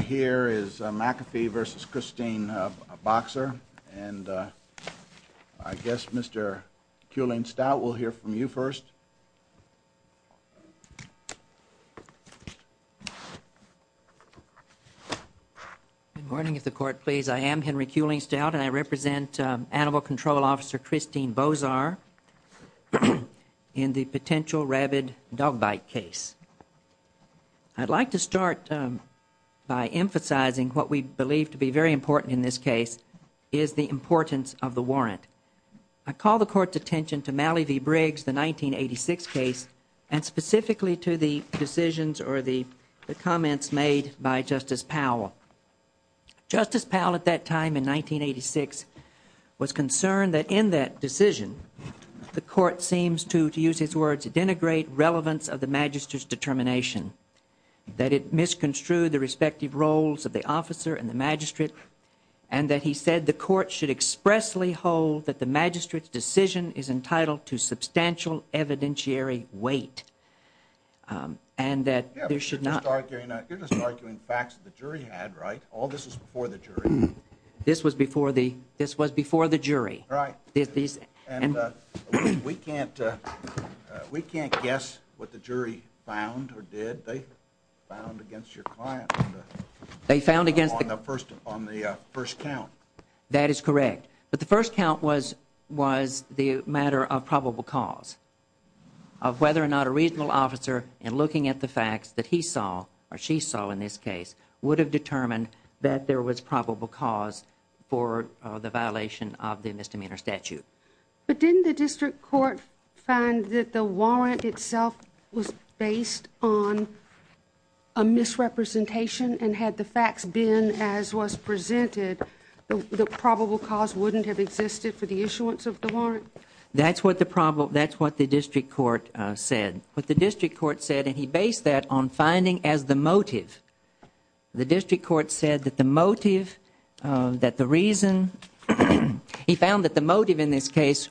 Here is McAfee v. Christine Boczar, and I guess Mr. Kuehling-Stout will hear from you first. Good morning, if the court please. I am Henry Kuehling-Stout, and I represent Animal Control Officer Christine Boczar in the potential rabid dog bite case. I would like to start by emphasizing what we believe to be very important in this case, is the importance of the warrant. I call the court's attention to Mallee v. Briggs, the 1986 case, and specifically to the decisions or the comments made by Justice Powell. Justice Powell at that time, in 1986, was concerned that in that decision, the court seems to, to use his words, denigrate relevance of the magistrate's determination, that it misconstrued the respective roles of the officer and the magistrate, and that he said the court should expressly hold that the magistrate's decision is entitled to substantial evidentiary weight, and that there should not... You're just arguing facts that the jury had, right? All this was before the jury. This was before the, this was before the jury. Right. And we can't, we can't guess what the jury found or did. They found against your client. They found against... On the first, on the first count. That is correct. But the first count was, was the matter of probable cause, of whether or not a regional officer, in looking at the facts that he saw or she saw in this case, would have determined that there was probable cause for the violation of the misdemeanor statute. But didn't the district court find that the warrant itself was based on a misrepresentation, and had the facts been as was presented, the probable cause wouldn't have existed for the issuance of the warrant? That's what the problem, that's what the district court said. What the district court said, and he based that on finding as the motive. The district court said that the motive, that the reason, he found that the motive in this case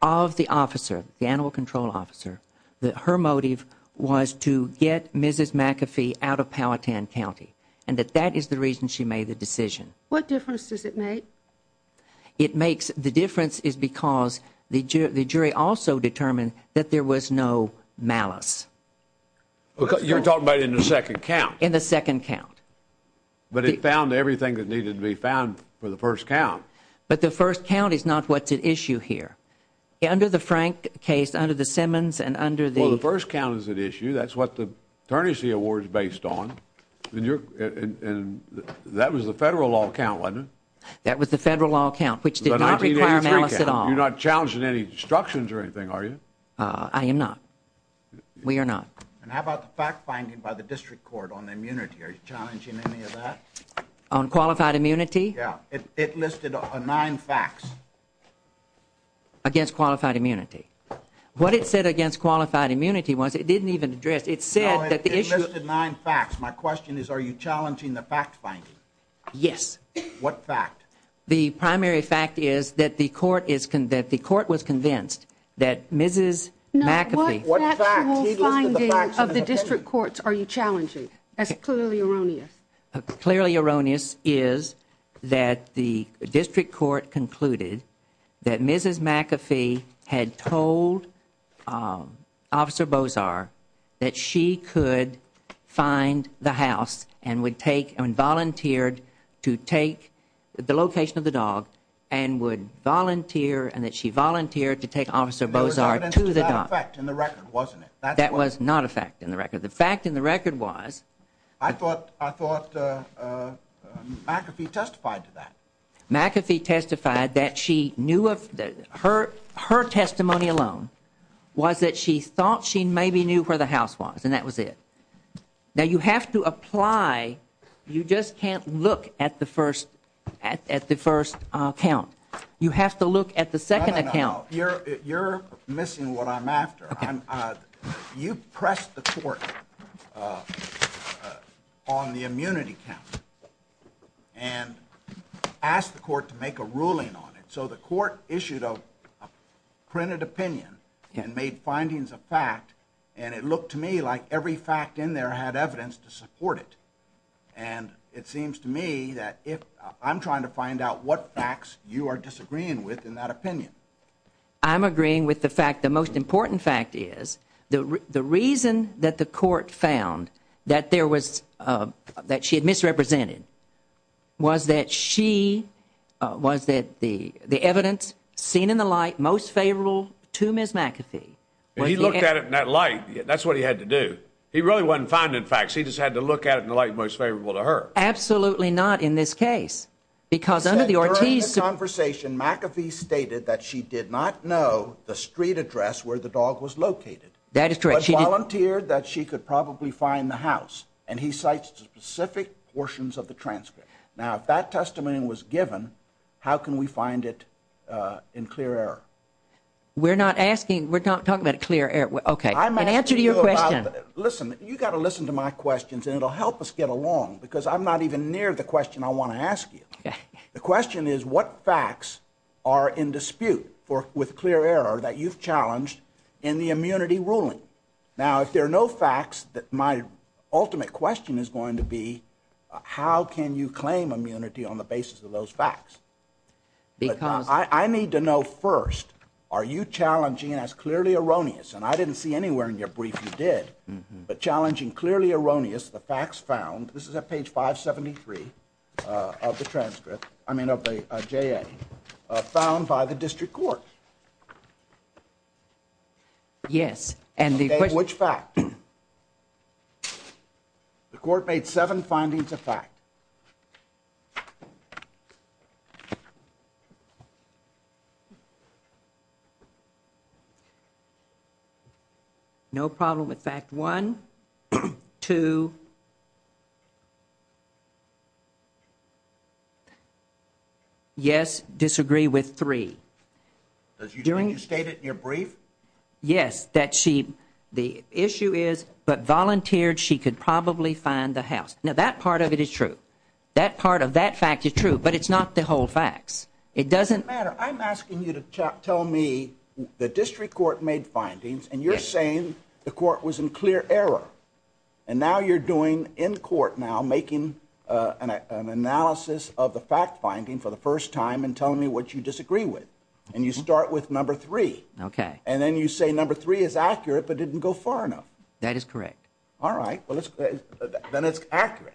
of the officer, the animal control officer, that her motive was to get Mrs. McAfee out of Powhatan County, and that that is the reason she made the decision. What difference does it make? It makes, the difference is because the jury also determined that there was no malice. You're talking about in the second count? In the second count. But it found everything that needed to be found for the first count. But the first count is not what's at issue here. Under the Frank case, under the Simmons, and under the- Well, the first count is at issue. That's what the ternancy award is based on, and that was the federal law count, wasn't it? That was the federal law count, which did not require malice at all. You're not challenging any instructions or anything, are you? I am not. We are not. And how about the fact finding by the district court on immunity? Are you challenging any of that? On qualified immunity? Yeah. It listed nine facts. Against qualified immunity. What it said against qualified immunity was it didn't even address, it said that the issue- No, it listed nine facts. My question is are you challenging the fact finding? Yes. What fact? The primary fact is that the court was convinced that Mrs. McAfee- No, what factual finding of the district courts are you challenging? That's clearly erroneous. Clearly erroneous is that the district court concluded that Mrs. McAfee had told Officer Bozar that she could find the house and would take and volunteered to take the location of the dog and would volunteer and that she volunteered to take Officer Bozar to the dog. There was evidence to that effect in the record, wasn't it? That was not a fact in the record. The fact in the record was- I thought McAfee testified to that. McAfee testified that her testimony alone was that she thought she maybe knew where the house was and that was it. Now you have to apply, you just can't look at the first account. You have to look at the second account. No, no, no. You're missing what I'm after. You pressed the court on the immunity count and asked the court to make a ruling on it. So the court issued a printed opinion and made findings of fact and it looked to me like every fact in there had evidence to support it. And it seems to me that I'm trying to find out what facts you are disagreeing with in that opinion. I'm agreeing with the fact, the most important fact is, the reason that the court found that she had misrepresented was that the evidence seen in the light most favorable to Ms. McAfee. He looked at it in that light, that's what he had to do. He really wasn't finding facts, he just had to look at it in the light most favorable to her. Absolutely not in this case. During the conversation McAfee stated that she did not know the street address where the dog was located. That is correct. But volunteered that she could probably find the house. And he cites specific portions of the transcript. Now if that testimony was given, how can we find it in clear error? We're not asking, we're not talking about clear error. Okay, in answer to your question. Listen, you've got to listen to my questions and it will help us get along because I'm not even near the question I want to ask you. The question is what facts are in dispute with clear error that you've challenged in the immunity ruling? Now if there are no facts, my ultimate question is going to be, how can you claim immunity on the basis of those facts? I need to know first, are you challenging as clearly erroneous, and I didn't see anywhere in your brief you did, but challenging clearly erroneous the facts found, this is at page 573 of the transcript, I mean of the JA, found by the district court? Yes. Okay, which fact? The court made seven findings of fact. Okay. No problem with fact one. Two. Yes, disagree with three. Did you state it in your brief? Yes, that the issue is, but volunteered she could probably find the house. Now that part of it is true. That part of that fact is true, but it's not the whole facts. It doesn't matter. I'm asking you to tell me the district court made findings, and you're saying the court was in clear error, and now you're doing in court now making an analysis of the fact finding for the first time and telling me what you disagree with, and you start with number three. Okay. And then you say number three is accurate but didn't go far enough. That is correct. All right. Then it's accurate.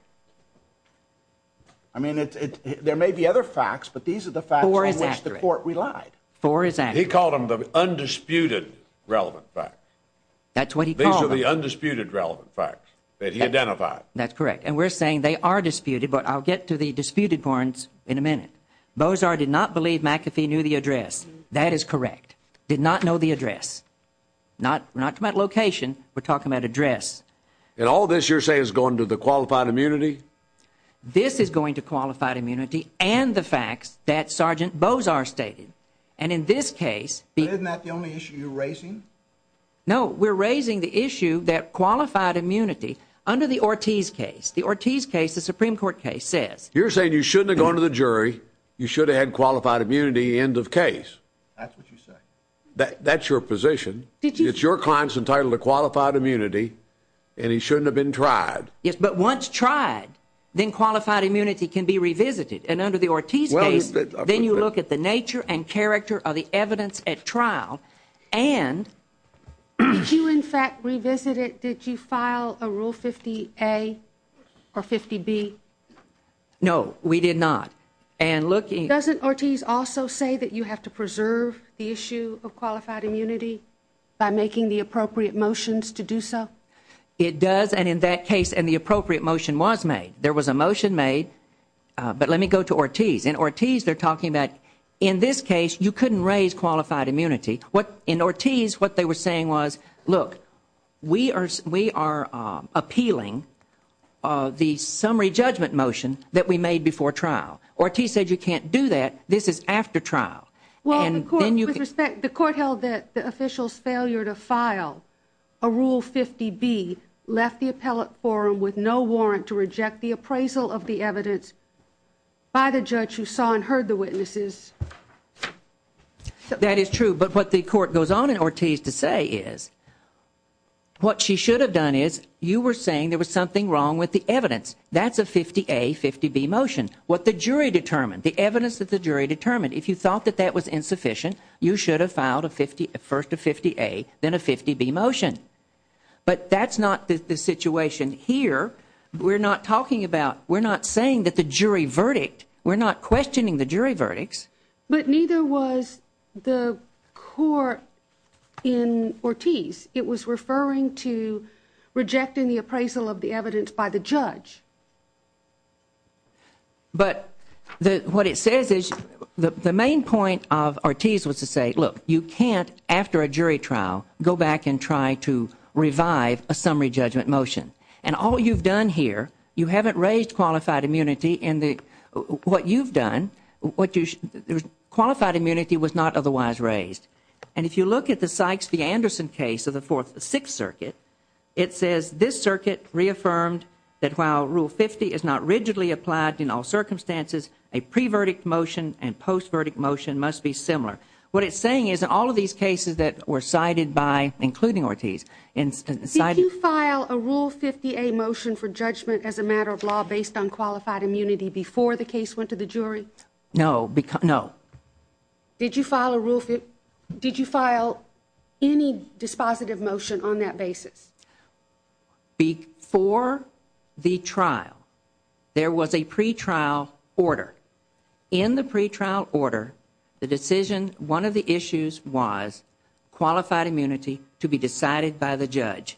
I mean, there may be other facts, but these are the facts on which the court relied. Four is accurate. He called them the undisputed relevant facts. That's what he called them. These are the undisputed relevant facts that he identified. That's correct. And we're saying they are disputed, but I'll get to the disputed points in a minute. Bozar did not believe McAfee knew the address. That is correct. Did not know the address. Not to my location. We're talking about address. And all this, you're saying, is going to the qualified immunity? This is going to qualified immunity and the facts that Sergeant Bozar stated. And in this case be— But isn't that the only issue you're raising? No, we're raising the issue that qualified immunity under the Ortiz case, the Ortiz case, the Supreme Court case, says— You're saying you shouldn't have gone to the jury. You should have had qualified immunity end of case. That's what you say. That's your position. It's your client's entitlement to qualified immunity, and he shouldn't have been tried. Yes, but once tried, then qualified immunity can be revisited. And under the Ortiz case, then you look at the nature and character of the evidence at trial and— Did you, in fact, revisit it? Did you file a Rule 50A or 50B? No, we did not. Doesn't Ortiz also say that you have to preserve the issue of qualified immunity by making the appropriate motions to do so? It does, and in that case, and the appropriate motion was made. There was a motion made, but let me go to Ortiz. In Ortiz, they're talking about, in this case, you couldn't raise qualified immunity. In Ortiz, what they were saying was, Look, we are appealing the summary judgment motion that we made before trial. Ortiz said you can't do that. This is after trial. Well, the court held that the official's failure to file a Rule 50B left the appellate forum with no warrant to reject the appraisal of the evidence by the judge who saw and heard the witnesses. That is true, but what the court goes on in Ortiz to say is, what she should have done is, you were saying there was something wrong with the evidence. That's a 50A, 50B motion. What the jury determined, the evidence that the jury determined, if you thought that that was insufficient, you should have filed first a 50A, then a 50B motion. But that's not the situation here. We're not talking about, we're not saying that the jury verdict, we're not questioning the jury verdicts. But neither was the court in Ortiz. It was referring to rejecting the appraisal of the evidence by the judge. But what it says is, the main point of Ortiz was to say, Look, you can't, after a jury trial, go back and try to revive a summary judgment motion. And all you've done here, you haven't raised qualified immunity in the, what you've done, qualified immunity was not otherwise raised. And if you look at the Sykes v. Anderson case of the Fourth and Sixth Circuit, it says this circuit reaffirmed that while Rule 50 is not rigidly applied in all circumstances, a pre-verdict motion and post-verdict motion must be similar. What it's saying is, in all of these cases that were cited by, including Ortiz, Did you file a Rule 50A motion for judgment as a matter of law based on qualified immunity before the case went to the jury? No. Did you file any dispositive motion on that basis? Before the trial, there was a pretrial order. In the pretrial order, the decision, one of the issues was qualified immunity to be decided by the judge.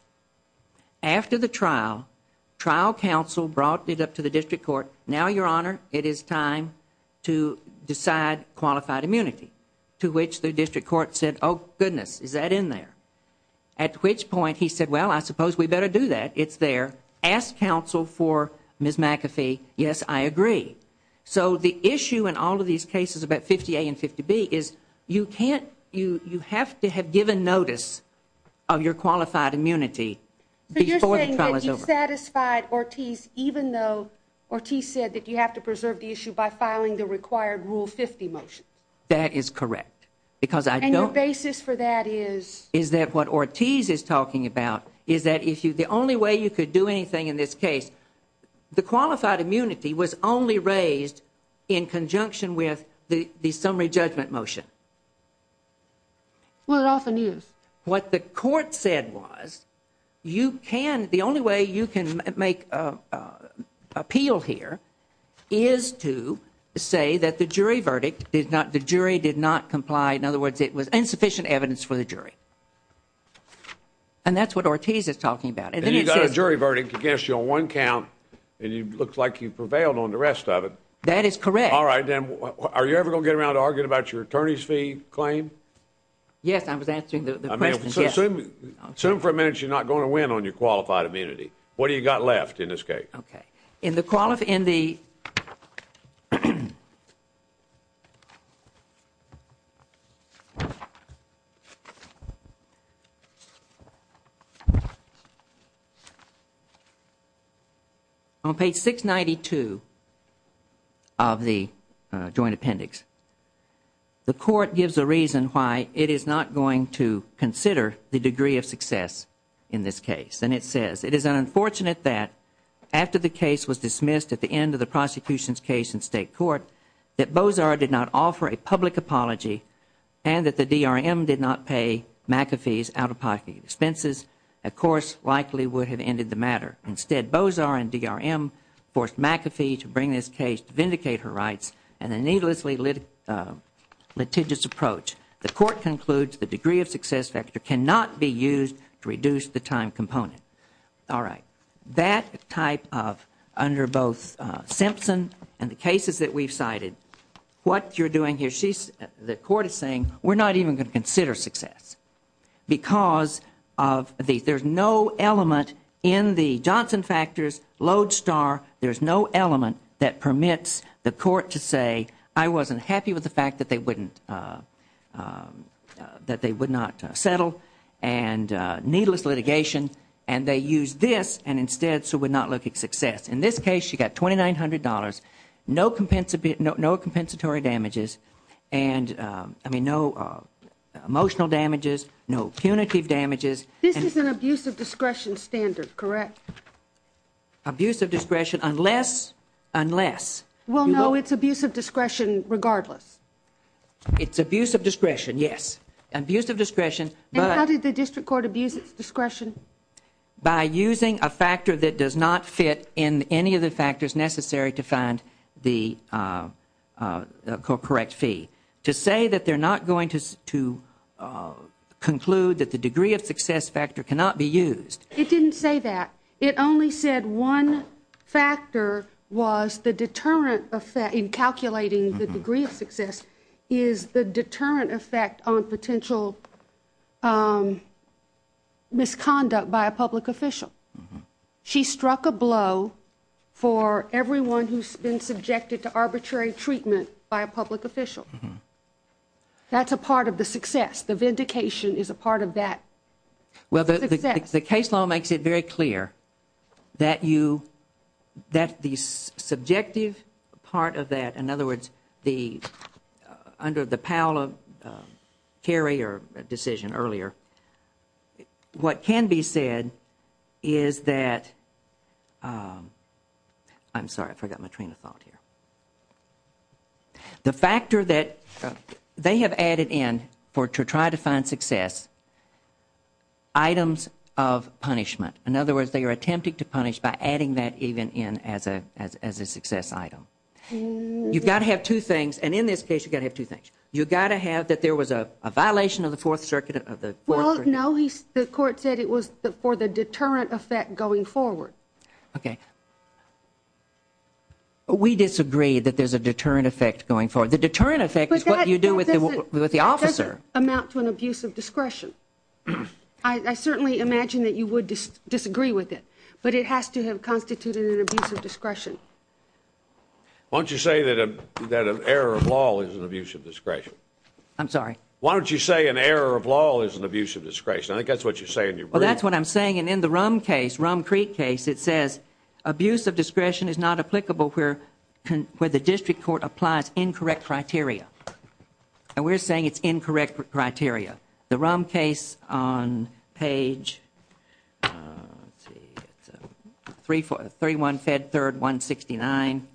After the trial, trial counsel brought it up to the district court, Now, Your Honor, it is time to decide qualified immunity, to which the district court said, Oh, goodness, is that in there? At which point he said, Well, I suppose we better do that. It's there. Ask counsel for Ms. McAfee. Yes, I agree. So the issue in all of these cases about 50A and 50B is you have to have given notice of your qualified immunity before the trial is over. So you're saying that you satisfied Ortiz even though Ortiz said that you have to preserve the issue by filing the required Rule 50 motion? That is correct. And your basis for that is? Is that what Ortiz is talking about, is that the only way you could do anything in this case, the qualified immunity was only raised in conjunction with the summary judgment motion? Well, it often is. What the court said was, you can, the only way you can make appeal here is to say that the jury verdict, the jury did not comply, in other words, it was insufficient evidence for the jury. And that's what Ortiz is talking about. And you got a jury verdict against you on one count, and it looks like you prevailed on the rest of it. That is correct. All right, then, are you ever going to get around to arguing about your attorney's fee claim? Yes, I was answering the questions. Assume for a minute you're not going to win on your qualified immunity. What do you got left in this case? Okay. On page 692 of the joint appendix, the court gives a reason why it is not going to consider the degree of success in this case. And it says, it is unfortunate that after the case was dismissed at the end of the prosecution's case in state court, that Bozar did not offer a public apology and that the DRM did not pay McAfee's out-of-pocket expenses, a course likely would have ended the matter. Instead, Bozar and DRM forced McAfee to bring this case to vindicate her rights in a needlessly litigious approach. The court concludes the degree of success factor cannot be used to reduce the time component. All right. That type of, under both Simpson and the cases that we've cited, what you're doing here, she's, the court is saying, we're not even going to consider success. Because of the, there's no element in the Johnson factors load star, there's no element that permits the court to say, I wasn't happy with the fact that they wouldn't, that they would not settle. And needless litigation. And they use this and instead, so we're not looking success. In this case, she got $2,900, no compensatory, no compensatory damages. And I mean, no emotional damages, no punitive damages. This is an abuse of discretion standard, correct? Abuse of discretion, unless. Well, no, it's abuse of discretion regardless. It's abuse of discretion. Yes. Abuse of discretion. And how did the district court abuse its discretion? By using a factor that does not fit in any of the factors necessary to find the correct fee. To say that they're not going to conclude that the degree of success factor cannot be used. It didn't say that. It only said one factor was the deterrent effect in calculating the degree of success is the deterrent effect on potential misconduct by a public official. She struck a blow for everyone who's been subjected to arbitrary treatment by a public official. That's a part of the success. The vindication is a part of that. Well, the case law makes it very clear that you, that the subjective part of that. In other words, under the Powell carrier decision earlier, what can be said is that, I'm sorry, I forgot my train of thought here. The factor that they have added in for to try to find success, items of punishment. In other words, they are attempting to punish by adding that even in as a success item. You've got to have two things. And in this case, you've got to have two things. You've got to have that there was a violation of the fourth circuit of the court. No, the court said it was for the deterrent effect going forward. Okay. We disagree that there's a deterrent effect going forward. The deterrent effect is what you do with the officer. It doesn't amount to an abuse of discretion. but it has to have constituted an abuse of discretion. Why don't you say that an error of law is an abuse of discretion? I'm sorry. Why don't you say an error of law is an abuse of discretion? I think that's what you're saying. Well, that's what I'm saying. And in the rum case, rum Creek case, it says abuse of discretion is not applicable where, where the district court applies incorrect criteria. And we're saying it's incorrect criteria. The rum case on page three, four, three, one fed, third, one 69.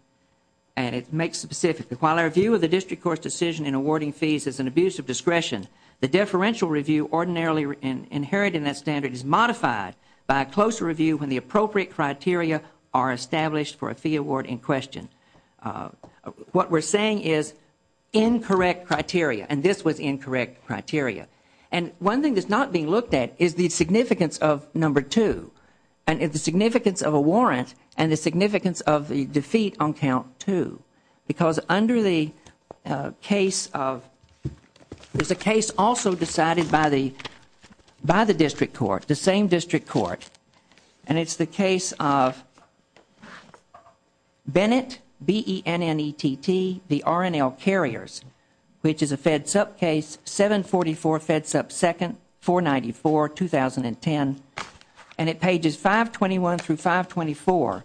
And it makes specific the quality of view of the district court decision in awarding fees as an abuse of discretion. The deferential review ordinarily inherited in that standard is modified by a closer review when the appropriate criteria are established for a fee award in question. What we're saying is incorrect criteria. And this was incorrect criteria. And one thing that's not being looked at is the significance of number two. And if the significance of a warrant and the significance of the defeat on count two, because under the case of there's a case also decided by the, by the district court, the same district court. And it's the case of Bennett B E N N E T T the R N L carriers, which is a fed sub case seven 44 fed sub second four 94, 2010. And it pages five 21 through five 24.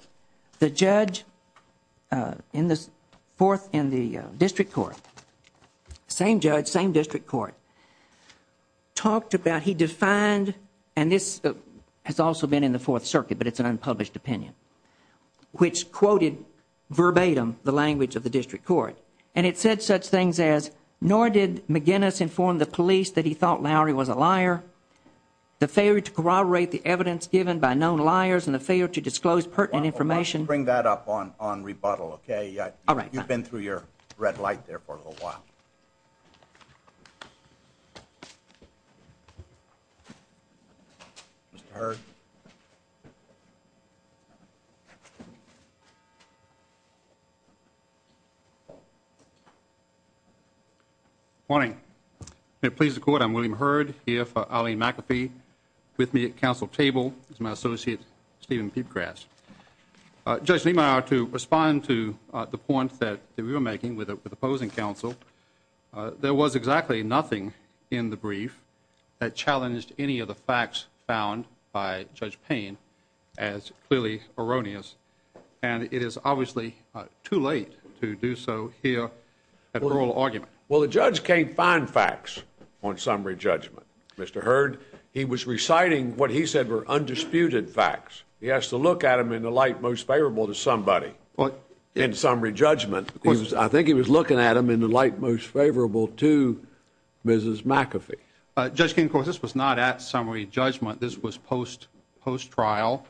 The judge in the fourth in the district court, same judge, same district court talked about, he defined, and this has also been in the fourth circuit, but it's an unpublished opinion, which quoted verbatim the language of the district court. And it said such things as, nor did McGinnis inform the police that he thought Lowry was a liar. The failure to corroborate the evidence given by known liars and the failure to disclose pertinent information. Bring that up on, on rebuttal. Okay. Yeah. All right. You've been through your red light there for a little while. Mr. Good morning. May it please the court. I'm William herd here for Ali McAfee with me at council table. It's my associate, Steven P grass, uh, judge Lima to respond to the point that we were making with the opposing council. Uh, there was exactly nothing in the brief that challenged any of the facts found by judge pain as clearly erroneous. And it is obviously too late to do so here at oral argument. Well, the judge can't find facts on summary judgment. Mr. Heard, he was reciting what he said were undisputed facts. He has to look at them in the light, most favorable to somebody in summary judgment. I think he was looking at them in the light, most favorable to Mrs. McAfee. Uh, just in course, this was not at summary judgment. This was post post trial.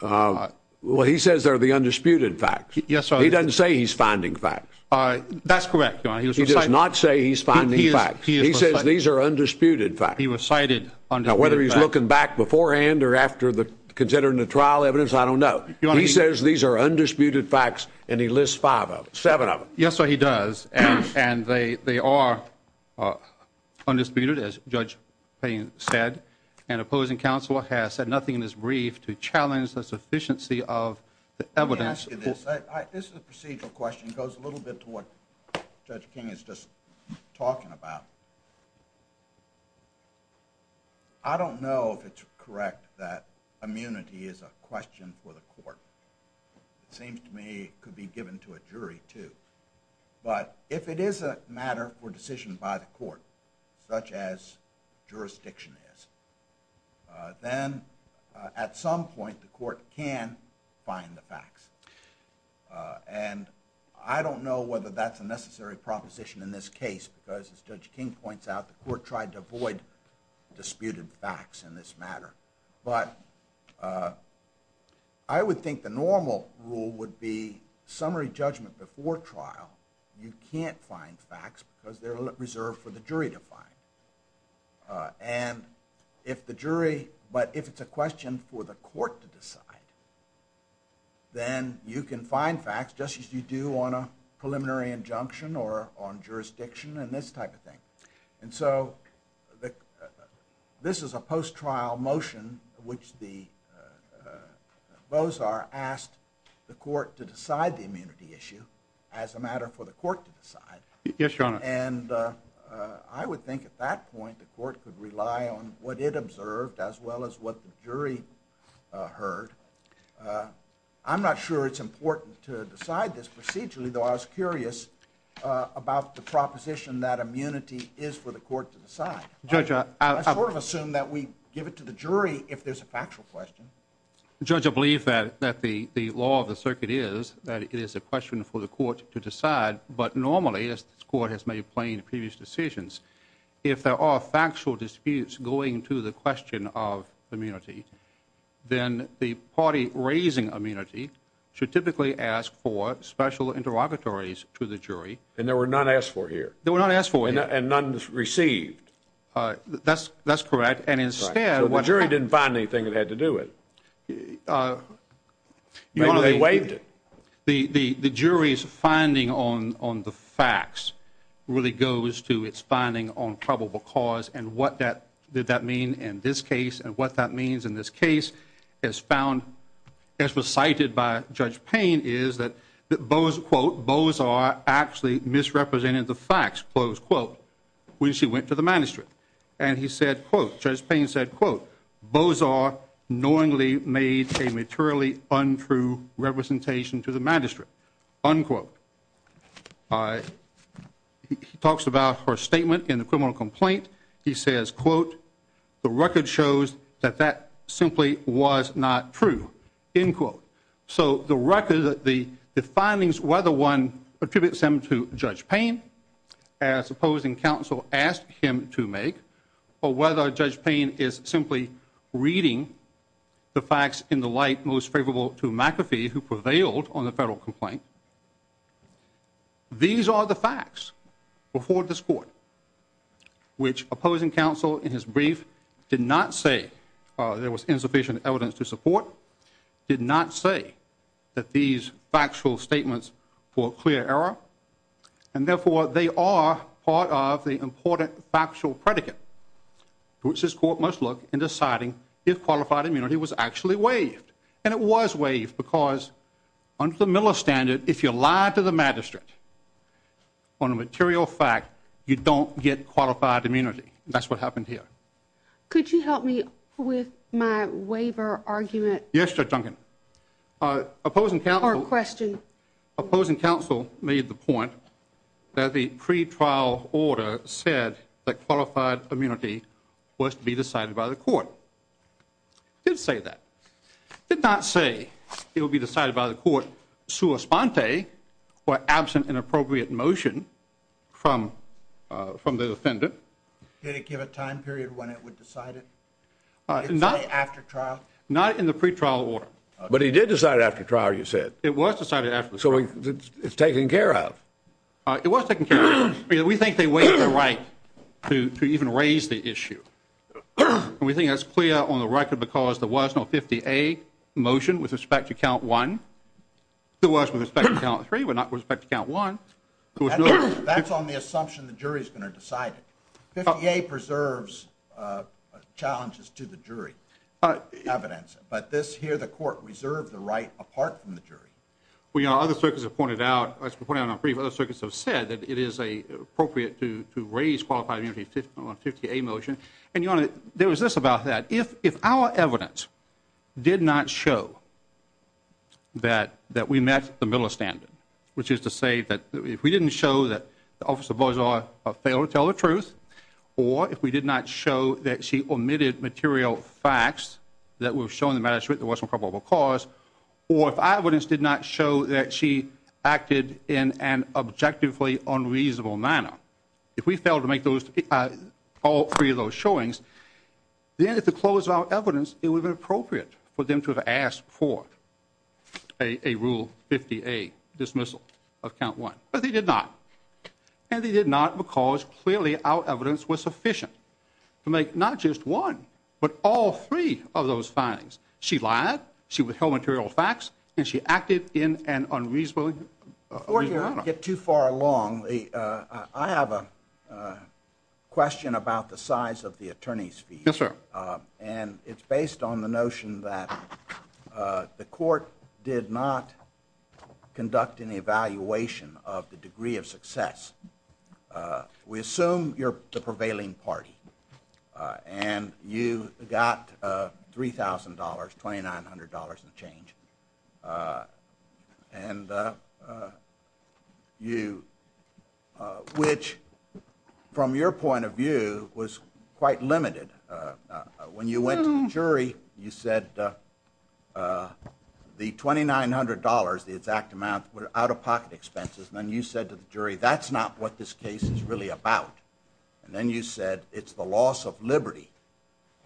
Uh, well, he says they're the undisputed facts. He doesn't say he's finding facts. Uh, that's correct. He does not say he's finding facts. He says these are undisputed facts. He was cited on whether he's looking back beforehand or after the, considering the trial evidence. I don't know. He says these are undisputed facts and he lists five of seven of them. Yes, He does. and they, they are, uh, undisputed as judge pain said, and opposing council has said nothing in this brief to challenge the sufficiency of the evidence. This is a procedural question. It goes a little bit to what judge King is just talking about. I don't know if it's correct that immunity is a question for the court. It seems to me it could be given to a jury too, but if it is a matter for decision by the court, such as jurisdiction is, uh, then, uh, at some point the court can find the facts. Uh, and I don't know whether that's a necessary proposition in this case because as judge King points out, the court tried to avoid disputed facts in this matter. But, uh, I would think the normal rule would be summary judgment before trial. You can't find facts because they're reserved for the jury to find. Uh, and if the jury, but if it's a question for the court to decide, then you can find facts just as you do on a preliminary injunction or on jurisdiction and this type of thing. And so the, uh, this is a post trial motion which the, uh, those are asked the court to decide the immunity issue as a matter for the court to decide. Yes, your honor. And, uh, I would think at that point the court could rely on what it observed as well as what the jury, uh, heard. Uh, I'm not sure it's important to decide this procedurally though. I was curious, uh, about the proposition that immunity is for the court to decide. Judge, I sort of assume that we give it to the jury if there's a factual question. Judge, I believe that, that the, the law of the circuit is that it is a question for the court to decide. But normally as the court has made plain previous decisions, if there are factual disputes going to the question of immunity, then the party raising immunity should typically ask for special interrogatories to the jury. And there were none asked for here. They were not asked for it. And none received. Uh, that's, that's correct. And instead, the jury didn't find anything that had to do it. Uh, you know, they waived it. The, the, the jury's finding on, on the facts really goes to its finding on probable cause. And what that, did that mean in this case and what that means in this case is found as was cited by judge pain is that the bows quote bows are actually misrepresented. The facts close quote, when she went to the manuscript and he said, quote, just pain said, quote, bows are knowingly made a materially untrue representation to the manuscript. Unquote. Uh, he talks about her statement in the criminal complaint. He says, quote, the record shows that that simply was not true in quote. So the record, the, the findings, whether one attributes them to judge pain, as opposing council asked him to make, or whether judge pain is simply reading the facts in the light, most favorable to McAfee who prevailed on the federal complaint. These are the facts before this court, which opposing council in his brief did not say, uh, there was insufficient evidence to support, did not say that these factual statements for clear error. And therefore they are part of the important factual predicate, which is court must look and deciding if qualified immunity was actually waived. And it was waived because under the Miller standard, if you lie to the magistrate on a material fact, you don't get qualified immunity. That's what happened here. Could you help me with my waiver argument? Yes. Judge Duncan, uh, opposing council question opposing council made the point that the pre trial order said that qualified immunity was to be decided by the court. Did say that, did not say it would be decided by the court. Sue a spontane or absent and appropriate motion from, uh, from the defendant. Did it give a time period when it would decide it? Not after trial, not in the pre trial order, but he did decide after trial. You said it was decided after it's taken care of. Uh, it was taken care of. I mean, we think they waited the right to, to even raise the issue. And we think that's clear on the record because there was no 58 motion with respect to count one, the worst with respect to count three, but not with respect to count one. That's on the assumption. The jury's going to decide 58 preserves, uh, challenges to the jury, evidence, but this here, the court reserved the right apart from the jury. Well, you know, other circuits have pointed out, let's put it on a brief. Other circuits have said that it is a appropriate to, to raise qualified immunity, 50, 50 a motion. And you want to, there was this about that. If, if our evidence did not show that, that we met the middle of standard, which is to say that if we didn't show that the office of buzz are a fail to tell the truth, or if we did not show that she omitted material facts that we've shown the cause, or if I wouldn't, did not show that she acted in an objectively unreasonable manner. If we failed to make those all three of those showings, then at the close of our evidence, it would be appropriate for them to have asked for a, a rule 50, a dismissal of count one, but they did not. And they did not because clearly our evidence was sufficient to make not just one, but all three of those findings. She lied. She withheld material facts and she acted in an unreasonable or get too far along. I have a question about the size of the attorney's fee. Yes, sir. And it's based on the notion that the court did not conduct an evaluation of the degree of success. $2,900, $2,900 and change. Uh, and, uh, uh, you, uh, which from your point of view was quite limited. Uh, when you went to the jury, you said, uh, uh, the $2,900, the exact amount out of pocket expenses. And then you said to the jury, that's not what this case is really about. And then you said, it's the loss of Liberty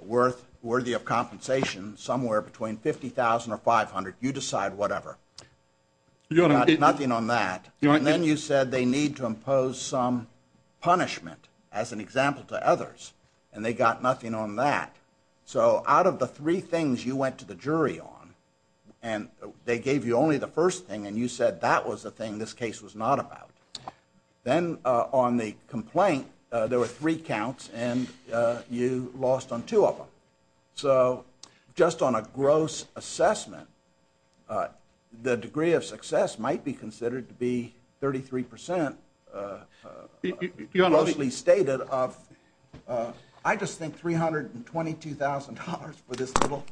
worth worthy of compensation. Somewhere between 50,000 or 500, you decide whatever, nothing on that. And then you said they need to impose some punishment as an example to others. And they got nothing on that. So out of the three things you went to the jury on and they gave you only the first thing. And you said that was the thing this case was not about. Then, uh, on the complaint, uh, there were three counts and, uh, you lost on two of them. So just on a gross assessment, uh, the degree of success might be considered to be 33%, uh, uh, mostly stated of, uh, I just think $322,000 for this little,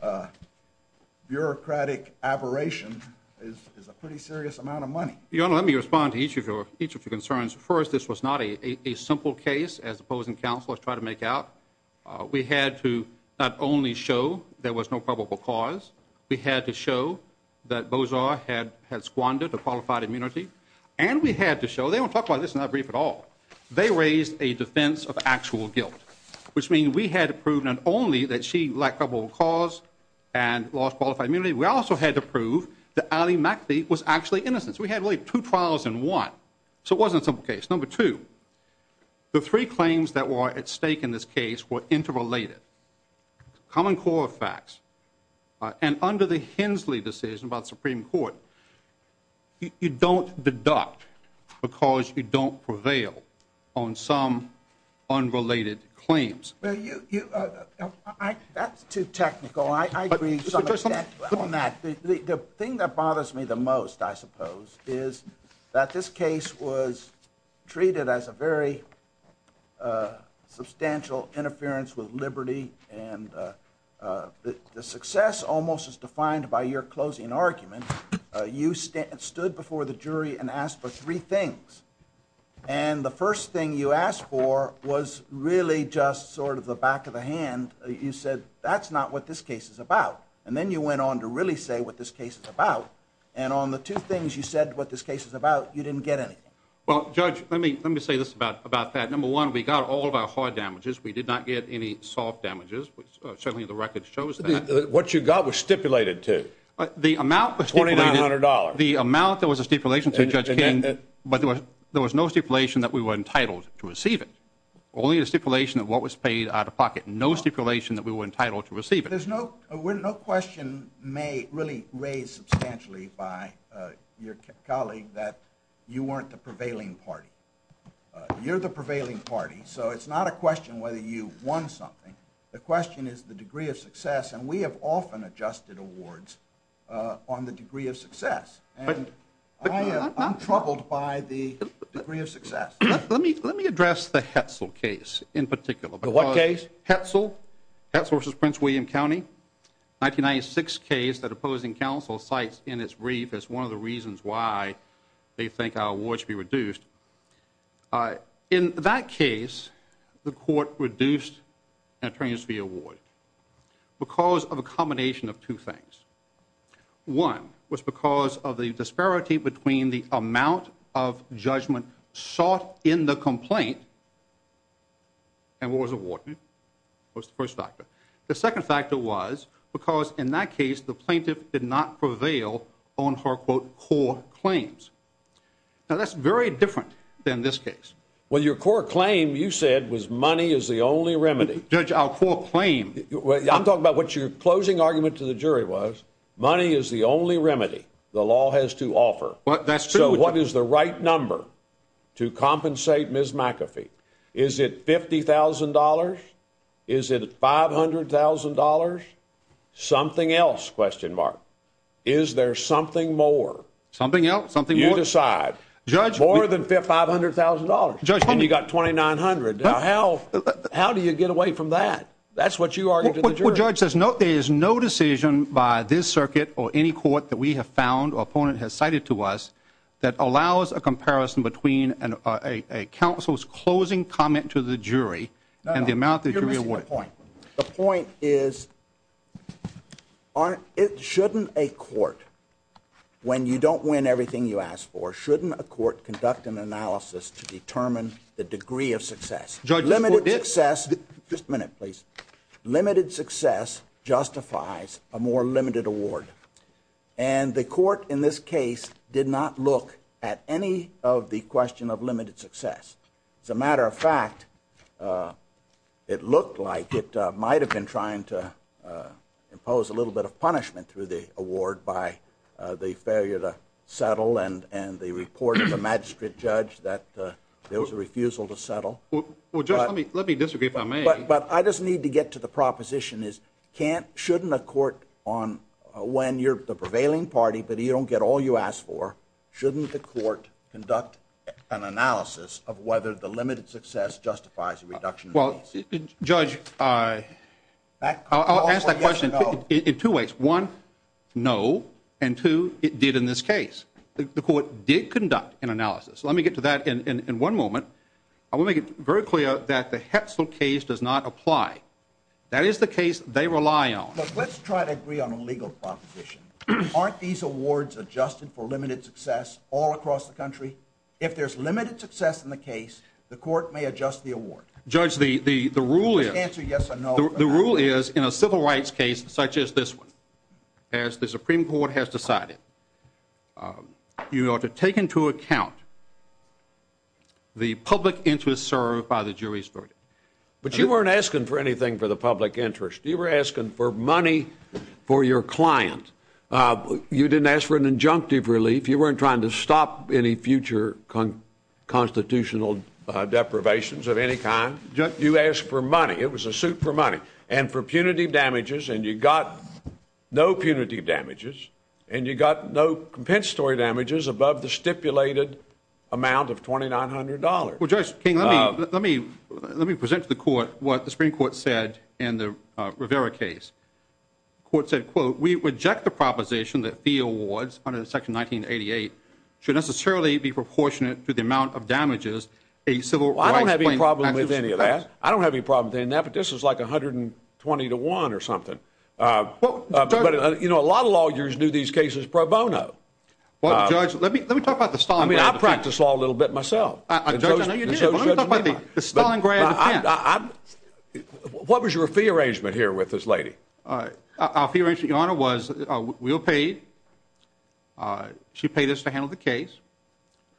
uh, bureaucratic aberration is, is a pretty serious amount of money. Let me respond to each of your, each of your concerns. First, this was not a, a, a simple case as opposed and counselors try to make out. Uh, we had to not only show there was no probable cause. We had to show that those are had, had squandered a qualified immunity and we had to show, they don't talk about this and not brief at all. They raised a defense of actual guilt, which means we had to prove not only that she lacked a bold cause and lost qualified immunity. We also had to prove that Ali McAfee was actually innocence. We had like two trials in one. So it wasn't a simple case. Number two, the three claims that were at stake in this case were interrelated common core facts. Uh, and under the Hensley decision about Supreme court, you don't deduct because you don't prevail on some unrelated claims. Well, you, you, uh, I, that's too technical. I agree on that. The thing that bothers me the most, I suppose, is that this case was treated as a very, uh, substantial interference with Liberty and, uh, uh, the, the success almost as defined by your closing argument. Uh, you stand, stood before the jury and asked for three things. And the first thing you asked for was really just sort of the back of the hand. You said, that's not what this case is about. And then you went on to really say what this case is about. And on the two things you said, what this case is about, you didn't get anything. Well, judge, let me, let me say this about, about that. Number one, we got all of our hard damages. We did not get any soft damages, which certainly the record shows that what you got was stipulated to the amount, the $20, the amount that was a stipulation to judge, but there was, there was no stipulation that we were entitled to receive it. Only a stipulation of what was paid out of pocket. No stipulation that we were entitled to receive it. There's no, we're no question may really raise substantially by your colleague, that you weren't the prevailing party. You're the prevailing party. So it's not a question whether you won something. The question is the degree of success. And we have often adjusted awards on the degree of success, but I am troubled by the degree of success. Let me, let me address the Hetzel case in particular, but what case Hetzel, Hetzel v. Prince William County, 1996 case that opposing counsel cites in its brief as one of the reasons why they think our award should be reduced. In that case, the court reduced an attorney's fee award because of a combination of two things. One was because of the disparity between the amount of judgment sought in the complaint and what was awarded. What's the first factor? The second factor was because in that case, the plaintiff did not prevail on her quote core claims. Now that's very different than this case. Well, your core claim, you said was money is the only remedy judge. Our core claim. I'm talking about what your closing argument to the jury was. Money is the only remedy the law has to offer, but that's true. What is the right number to compensate Ms. McAfee? Is it $50,000? Is it $500,000? Something else? Question mark. Is there something more, something else, something you decide judge more than $500,000 and you got 2,900. How? How do you get away from that? That's what you are. Judge says, no, there is no decision by this circuit or any court that we have found or opponent has cited to us that allows a comparison between an, a, a council's closing comment to the jury and the amount that you're going to point. The point is on it. Shouldn't a court, when you don't win everything you asked for, shouldn't a court conduct an analysis to determine the degree of success, judge limited success. Just a minute, please. Limited success justifies a more limited award. And the court in this case did not look at any of the question of limited success. As a matter of fact, uh, it looked like it, uh, might've been trying to, uh, impose a little bit of punishment through the award by, uh, the failure to settle and, and the report of the magistrate judge that, uh, there was a refusal to settle. Well, let me, let me disagree if I may, but I just need to get to the proposition is can't, shouldn't a court on a, when you're the prevailing party, but he don't get all you asked for, shouldn't the court conduct an analysis of whether the limited success justifies a reduction? Well, judge, uh, I'll ask that question in two ways. One, no. And two, it did in this case, the court did conduct an analysis. Let me get to that in one moment. I want to make it very clear that the Hetzel case does not apply. That is the case they rely on. Let's try to agree on a legal proposition. Aren't these awards adjusted for limited success all across the country? If there's limited success in the case, the court may adjust the award. Judge, the, the, the rule is yes or no. The rule is in a civil rights case, such as this one, as the Supreme court has decided, um, you ought to take into account the public interest served by the jury's verdict. But you weren't asking for anything for the public interest. You were asking for money for your client. Uh, you didn't ask for an injunctive relief. You weren't trying to stop any future constitutional deprivations of any kind. You asked for money. It was a suit for money and for punitive damages. And you got no punitive damages and you got no compensatory damages above the stipulated amount of $2,900. Well, let me present to the court what the Supreme court said in the Rivera case court said, quote, we reject the proposition that the awards under the section 1988 should necessarily be proportionate to the amount of damages. A civil, I don't have any problem with any of that. I don't have any problem with that. But this is like 120 to one or something. Uh, you know, a lot of lawyers do these cases pro bono. Let me, let me talk about the style. I mean, I practice law a little bit myself. I don't know. You know, but I'm going to talk about the style and grad. I, I, what was your fee arrangement here with this lady? Uh, our fee arrangement, your honor was, uh, we were paid. Uh, she paid us to handle the case.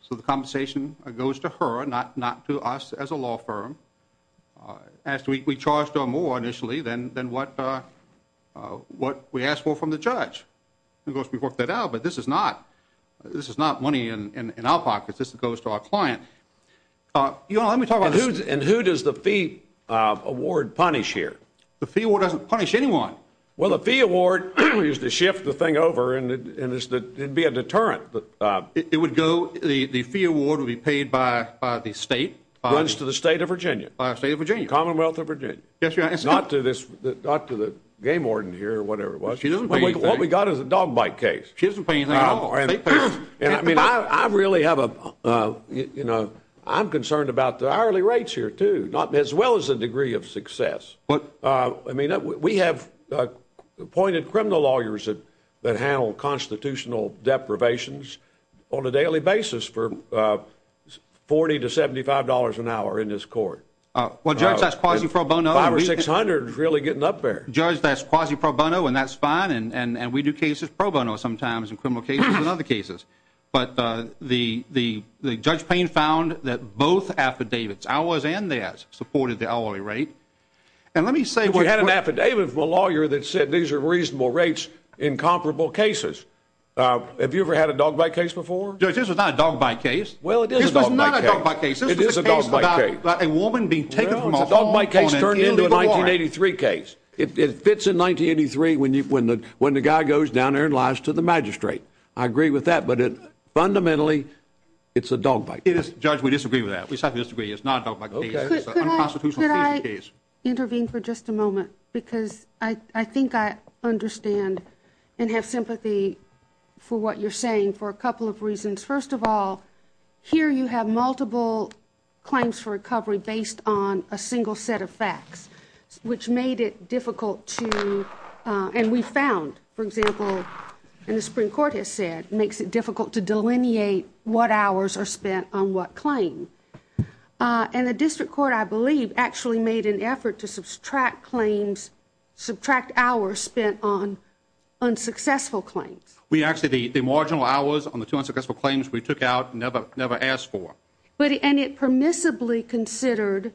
So the compensation goes to her, not, not to us as a law firm. Uh, as we charged her more initially than, than what, uh, uh, what we asked for from the judge. And of course we worked that out, but this is not, this is not money in, in, in our pockets. This goes to our client. Uh, you know, let me talk about this. And who does the fee, uh, award punish here? The fee award doesn't punish anyone. Well, the fee award is to shift the thing over and, and it's the, it'd be a deterrent, but, uh, it would go, the, the fee award will be paid by, by the state. Runs to the state of Virginia, state of Virginia, Commonwealth of Virginia. Yes, not to this, not to the game warden here or whatever it was. She doesn't, what we got is a dog bite case. She doesn't pay anything. I mean, I, I really have a, uh, you know, I'm concerned about the hourly rates here too, not as well as the degree of success. But, uh, I mean, we have appointed criminal lawyers that, that handle constitutional deprivations on a daily basis for, uh, 40 to $75 an hour in this court. Uh, well judge, that's quasi pro bono. Five or 600 is really getting up there. Judge, that's quasi pro bono and that's fine. And, and, and we do cases pro bono sometimes in criminal cases and other cases. But, uh, the, the, the judge Payne found that both affidavits, ours and theirs supported the hourly rate. And let me say, we had an affidavit from a lawyer that said, these are reasonable rates in comparable cases. Uh, have you ever had a dog bite case before? Judge, this was not a dog bite case. Well, it is not a dog bite case. It is a dog bite case. A woman being taken from a dog bite case turned into a 1983 case. It, it fits in 1983 when you, when the, when the guy goes down there and lies to the magistrate. I agree with that, but it fundamentally, it's a dog bite case. Judge, we disagree with that. We certainly disagree. It's not a dog bite case. Okay. Could I, could I intervene for just a moment? Because I, I think I understand and have sympathy for what you're saying for a couple of reasons. First of all, here you have multiple claims for recovery based on a single set of facts, which made it difficult to, uh, and we found, for example, and the Supreme Court has said, makes it difficult to delineate what hours are spent on what claim. Uh, and the district court, I believe, actually made an effort to subtract claims, subtract hours spent on unsuccessful claims. We actually, the, the marginal hours on the two unsuccessful claims we took out never, never asked for. But, and it permissibly considered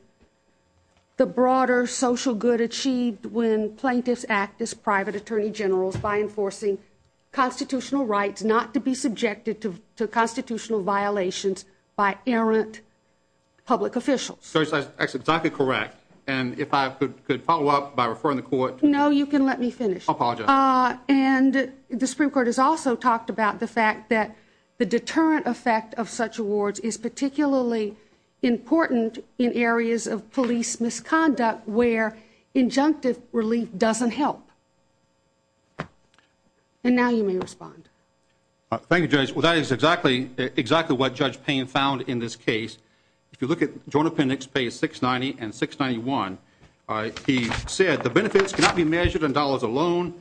the broader, social good achieved when plaintiffs act as private attorney generals by enforcing constitutional rights, not to be subjected to constitutional violations by errant public officials. So it's exactly correct. And if I could, could follow up by referring the court. No, you can let me finish. Uh, and the Supreme Court has also talked about the fact that the deterrent effect of such awards is particularly important in areas of police misconduct, where injunctive relief doesn't help. And now you may respond. Thank you, judge. Well, that is exactly, exactly what judge pain found in this case. If you look at Jordan appendix, pay six 90 and six 91. All right. He said the benefits cannot be measured in dollars alone.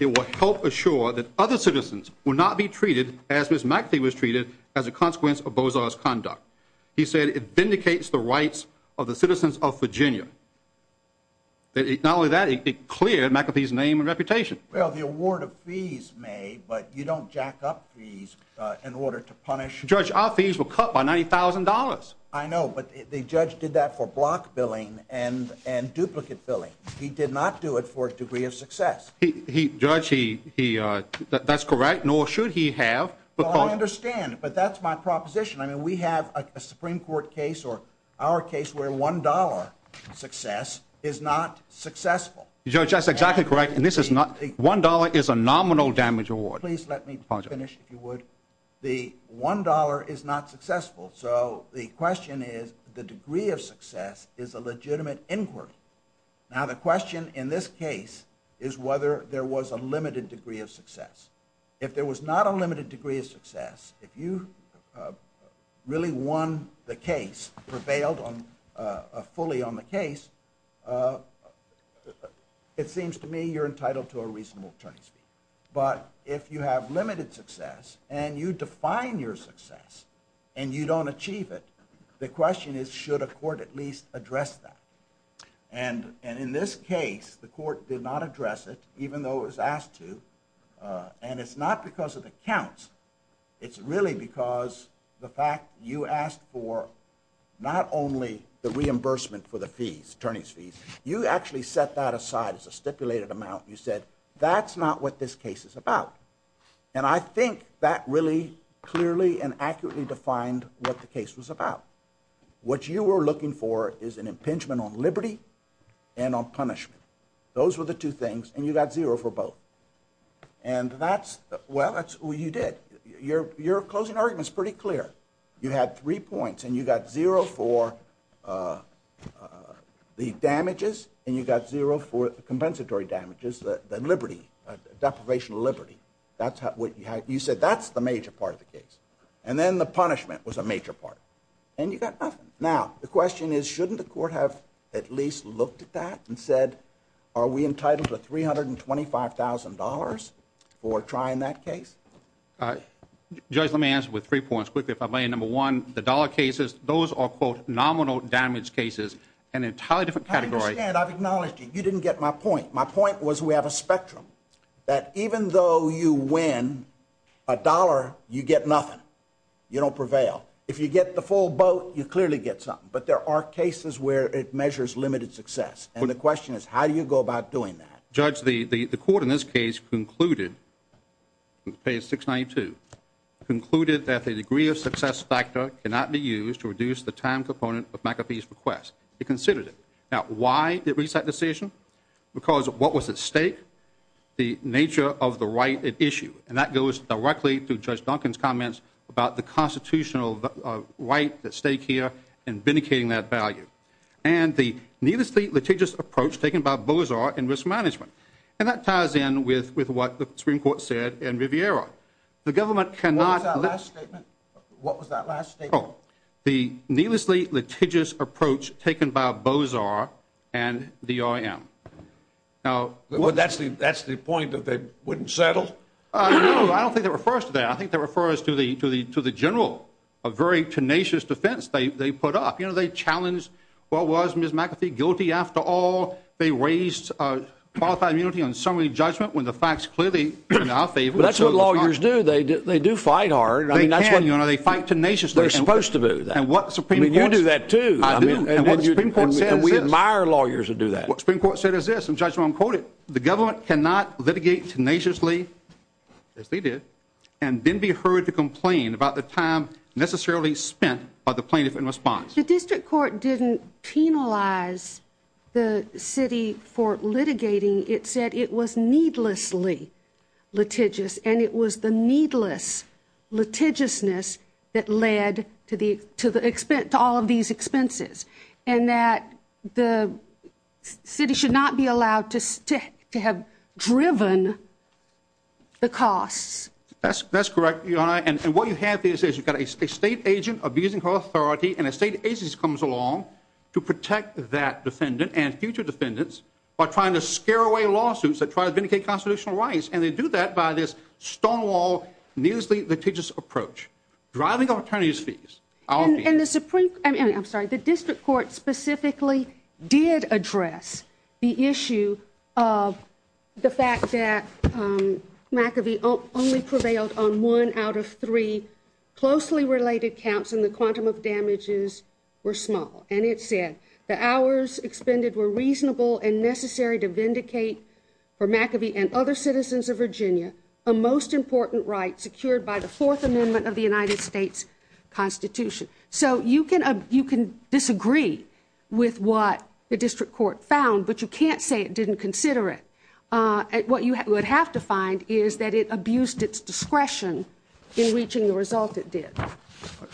It will help assure that other citizens will not be treated as Ms. McAfee was treated as a consequence of Bozo's conduct. He said it vindicates the rights of the citizens of Virginia. Not only that, it cleared McAfee's name and reputation. Well, the award of fees may, but you don't jack up fees in order to punish judge. Our fees were cut by $90,000. I know, but the judge did that for block billing and, and duplicate billing. He did not do it for a degree of success. He, he judge, he, he, uh, that's correct. Nor should he have, but I understand, but that's my proposition. I mean, we have a Supreme court case or our case where $1 success is not successful. You're just exactly correct. And this is not a $1 is a nominal damage award. Please let me finish. If you would, the $1 is not successful. So the question is, the degree of success is a legitimate inquiry. Now, the question in this case is whether there was a limited degree of success. If there was not a limited degree of success, if you, uh, really won the case, prevailed on, uh, fully on the case, uh, it seems to me you're entitled to a reasonable attorney's fee. But if you have limited success and you define your success and you don't achieve it, the question is, should a court at least address that? And, and in this case, the court did not address it, even though it was asked to. Uh, and it's not because of the counts. It's really because the fact you asked for not only the reimbursement for the fees, attorney's fees, you actually set that aside as a stipulated amount. You said, that's not what this case is about. And I think that really clearly and accurately defined what the case was about. What you were looking for is an impingement on liberty and on punishment. Those were the two things. And you got zero for both. And that's, well, that's what you did. Your, your closing argument's pretty clear. You had three points and you got zero for, uh, uh, the damages and you got zero for the compensatory damages, the, the liberty, deprivation of liberty. That's what you had. You said that's the major part of the case. And then the punishment was a major part. And you got nothing. Now, the question is, shouldn't the court have at least looked at that and said, are we entitled to $325,000 for trying that case? Uh, judge, let me answer with three points quickly. If I may, number one, the dollar cases, those are quote nominal damage cases and entirely different category. And I've acknowledged that you didn't get my point. My point was, we have a spectrum that even though you win a dollar, you get nothing. You don't prevail. If you get the full boat, you clearly get something. But there are cases where it measures limited success. And the question is, how do you go about doing that? Judge, the, the, the court in this case concluded page six, 92 concluded that the degree of success factor cannot be used to reduce the time component of McAfee's request. It considered it. Now, why did we set decision? Because of what was at stake, the nature of the right issue. And that goes directly to judge Duncan's comments about the constitutional right, the stake here and vindicating that value. And the needlessly litigious approach taken by bullies are in risk management. And that ties in with, with what the Supreme court said in Riviera, the government cannot last statement. What was that last state? Oh, the needlessly litigious approach taken by bows are, and the, I am now. Well, that's the, that's the point that they wouldn't settle. I don't think that refers to that. I think that refers to the, to the, to the general, a very tenacious defense. They, they put up, you know, they challenged what was Ms. McAfee guilty after all, they raised a qualified immunity on summary judgment when the facts clearly in our favor, but that's what lawyers do. They do. They do fight hard. I mean, that's what, you know, they fight tenacious. They're supposed to do that. And what's the premium? You do that too. I mean, we admire lawyers to do that. What Supreme court said is this, the government cannot litigate tenaciously as they did and then be heard to complain about the time necessarily spent by the plaintiff in response. The district court didn't penalize the city for litigating. It said it was needlessly litigious and it was the needless litigiousness that led to the, to the expense to all of these expenses and that the city should not be allowed to stick to have driven the costs. That's, that's correct. And what you have to say is you've got a state agent abusing her authority and a state agency comes along to protect that defendant and future defendants are trying to scare away lawsuits that try to vindicate constitutional rights. And they do that by this stonewall, needlessly litigious approach, driving up attorney's fees. And the Supreme, I'm sorry, the district court specifically did address the issue of the fact that McAfee only prevailed on one out of three closely related counts in the quantum of damages were small. And it said the hours expended were reasonable and necessary to vindicate for McAfee and other citizens of Virginia, a most important right secured by the fourth amendment of the United States constitution. So you can, you can disagree with what the district court found, but you can't say it didn't consider it. Uh, what you would have to find is that it abused its discretion in reaching the result. It did.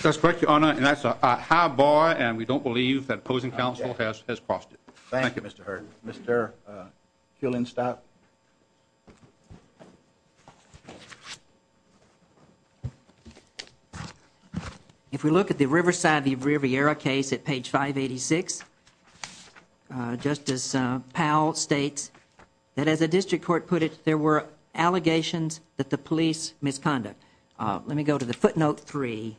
That's correct. Your Honor. And that's a high bar and we don't believe that opposing counsel has, has crossed it. Thank you, Mr. Hurd, Mr. Uh, killing stop. Okay. If we look at the Riverside, the river era case at page five 86, uh, justice, uh, Powell states that as a district court put it, there were allegations that the police misconduct. Uh, let me go to the footnote three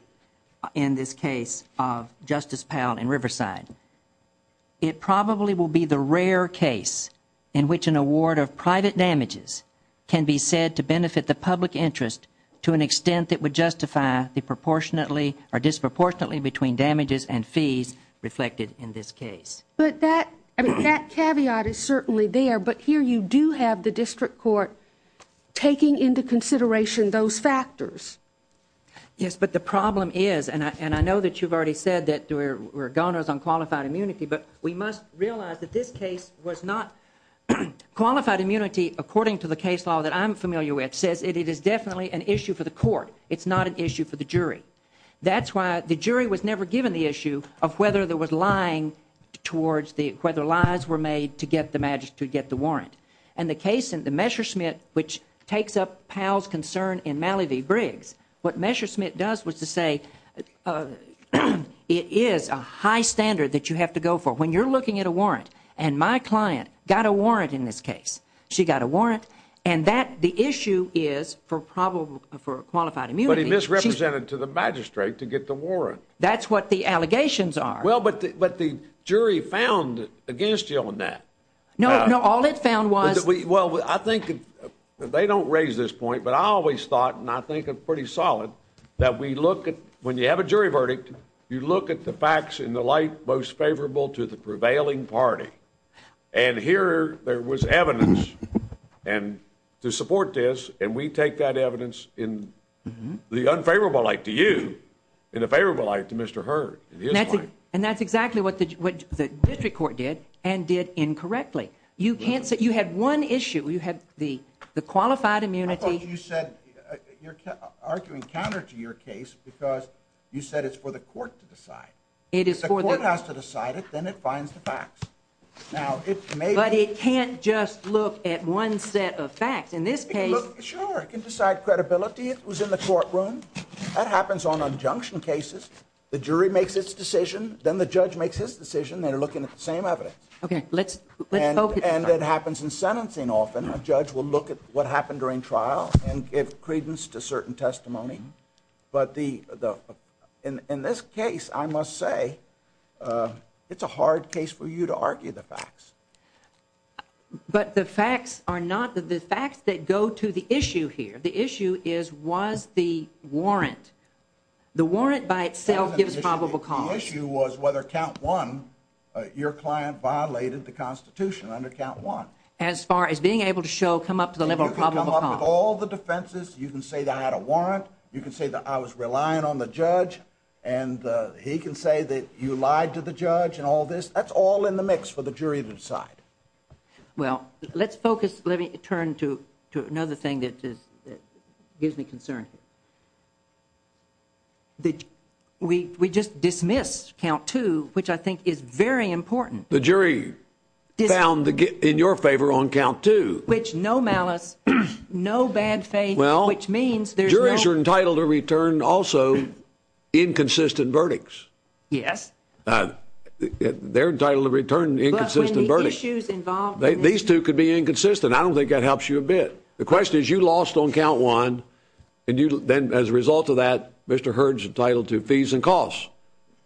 in this case of justice Powell and Riverside. It probably will be the rare case in which an award of private damages can be said to benefit the public interest to an extent that would justify the proportionately or disproportionately between damages and fees reflected in this case. But that, I mean, that caveat is certainly there, but here you do have the district court taking into consideration those factors. Yes, but the problem is, and I, I know that you've already said that there were goners on qualified immunity, but we must realize that this case was not qualified. Immunity, according to the case law that I'm familiar with says it, it is definitely an issue for the court. It's not an issue for the jury. That's why the jury was never given the issue of whether there was lying towards the, whether lies were made to get the magic to get the warrant and the case and the measure Smith, which takes up Powell's concern in Malibu Briggs. What measure Smith does was to say, uh, it is a high standard that you have to go for when you're looking at a warrant and my client got a warrant in this case, she got a warrant and that the issue is for probable, for qualified immunity, misrepresented to the magistrate to get the warrant. That's what the allegations are. Well, but, but the jury found against you on that. No, All it found was, well, I think they don't raise this point, but I always thought, and I think a pretty solid that we look at when you have a jury verdict, you look at the facts in the light, most favorable to the prevailing party. And here there was evidence and to support this. And we take that evidence in the unfavorable light to you in a favorable light to Mr. Heard. And that's exactly what the, what the district court did and did incorrectly. You can't say you had one issue. You had the, the qualified immunity. You said you're arguing counter to your case because you said it's for the court to decide. It is for the court has to decide it. Then it finds the facts. Now, it may, but it can't just look at one set of facts in this case. Sure. It can decide credibility. It was in the courtroom that happens on a junction cases. The jury makes its decision. Then the judge makes his decision. They're looking at the same evidence. Okay. Let's let's hope. And that happens in sentencing. Often a judge will look at what happened during trial and give credence to certain testimony. But the, the, in, in this case, I must say, uh, it's a hard case for you to argue the facts, but the facts are not the facts that go to the issue here. The issue is, was the warrant, the warrant by itself gives probable cause. The issue was whether count one, uh, your client violated the constitution under count one, as far as being able to show, come up to the level of all the defenses. You can say that I had a warrant. You can say that I was relying on the judge and, uh, he can say that you lied to the judge and all this. That's all in the mix for the jury to decide. Well, let's focus. Let me turn to, to another thing that is, that gives me concern. The, we, we just dismissed count two, which I think is very important. The jury found the, in your favor on count two, which no malice, no bad faith, which means there's jurors are entitled to return. Also inconsistent verdicts. Yes. Uh, they're entitled to return inconsistent issues involved. These two could be inconsistent. I don't think that helps you a bit. The question is you lost on count one. And you, then as a result of that, Mr. Heard's entitled to fees and costs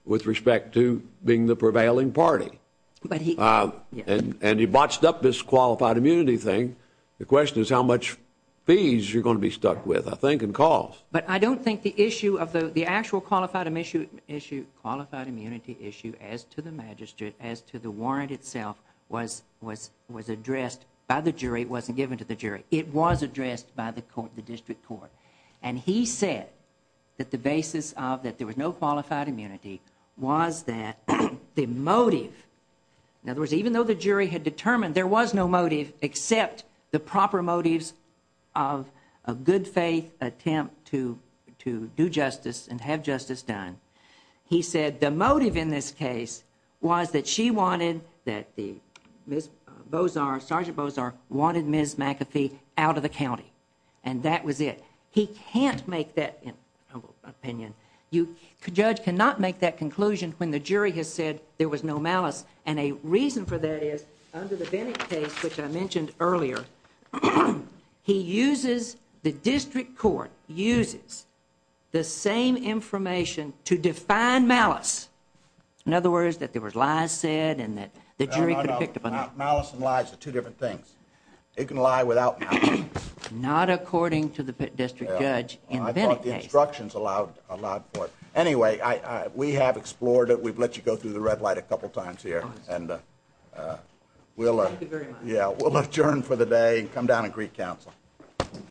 with respect to being the prevailing party. But he, uh, and, and he botched up this qualified immunity thing. The question is how much fees you're going to be stuck with, I think, and cause, but I don't think the issue of the, the actual qualified issue issue, qualified immunity issue as to the magistrate, as to the warrant itself was, was, was addressed by the jury. It wasn't given to the jury. It was addressed by the court, the district court. And he said that the basis of that, there was no qualified immunity. Was that the motive. In other words, even though the jury had determined there was no motive, except the proper motives of a good faith attempt to, to do justice and have justice done. He said, the motive in this case was that she wanted that. The Ms. Bozar, Sergeant Bozar wanted Ms. McAfee out of the County. And that was it. He can't make that opinion. You could judge, cannot make that conclusion when the jury has said there was no malice. And a reason for that is under the case, which I mentioned earlier, he uses the district court, uses the same information to define malice. In other words, that there was lies said and that the jury could have picked up on that. Malice and lies are two different things. It can lie without malice. Not according to the district judge in the Bennett case. I thought the instructions allowed for it. Anyway, we have explored it. We've let you go through the red light a couple of times here. And we'll adjourn for the day and come down and greet counsel.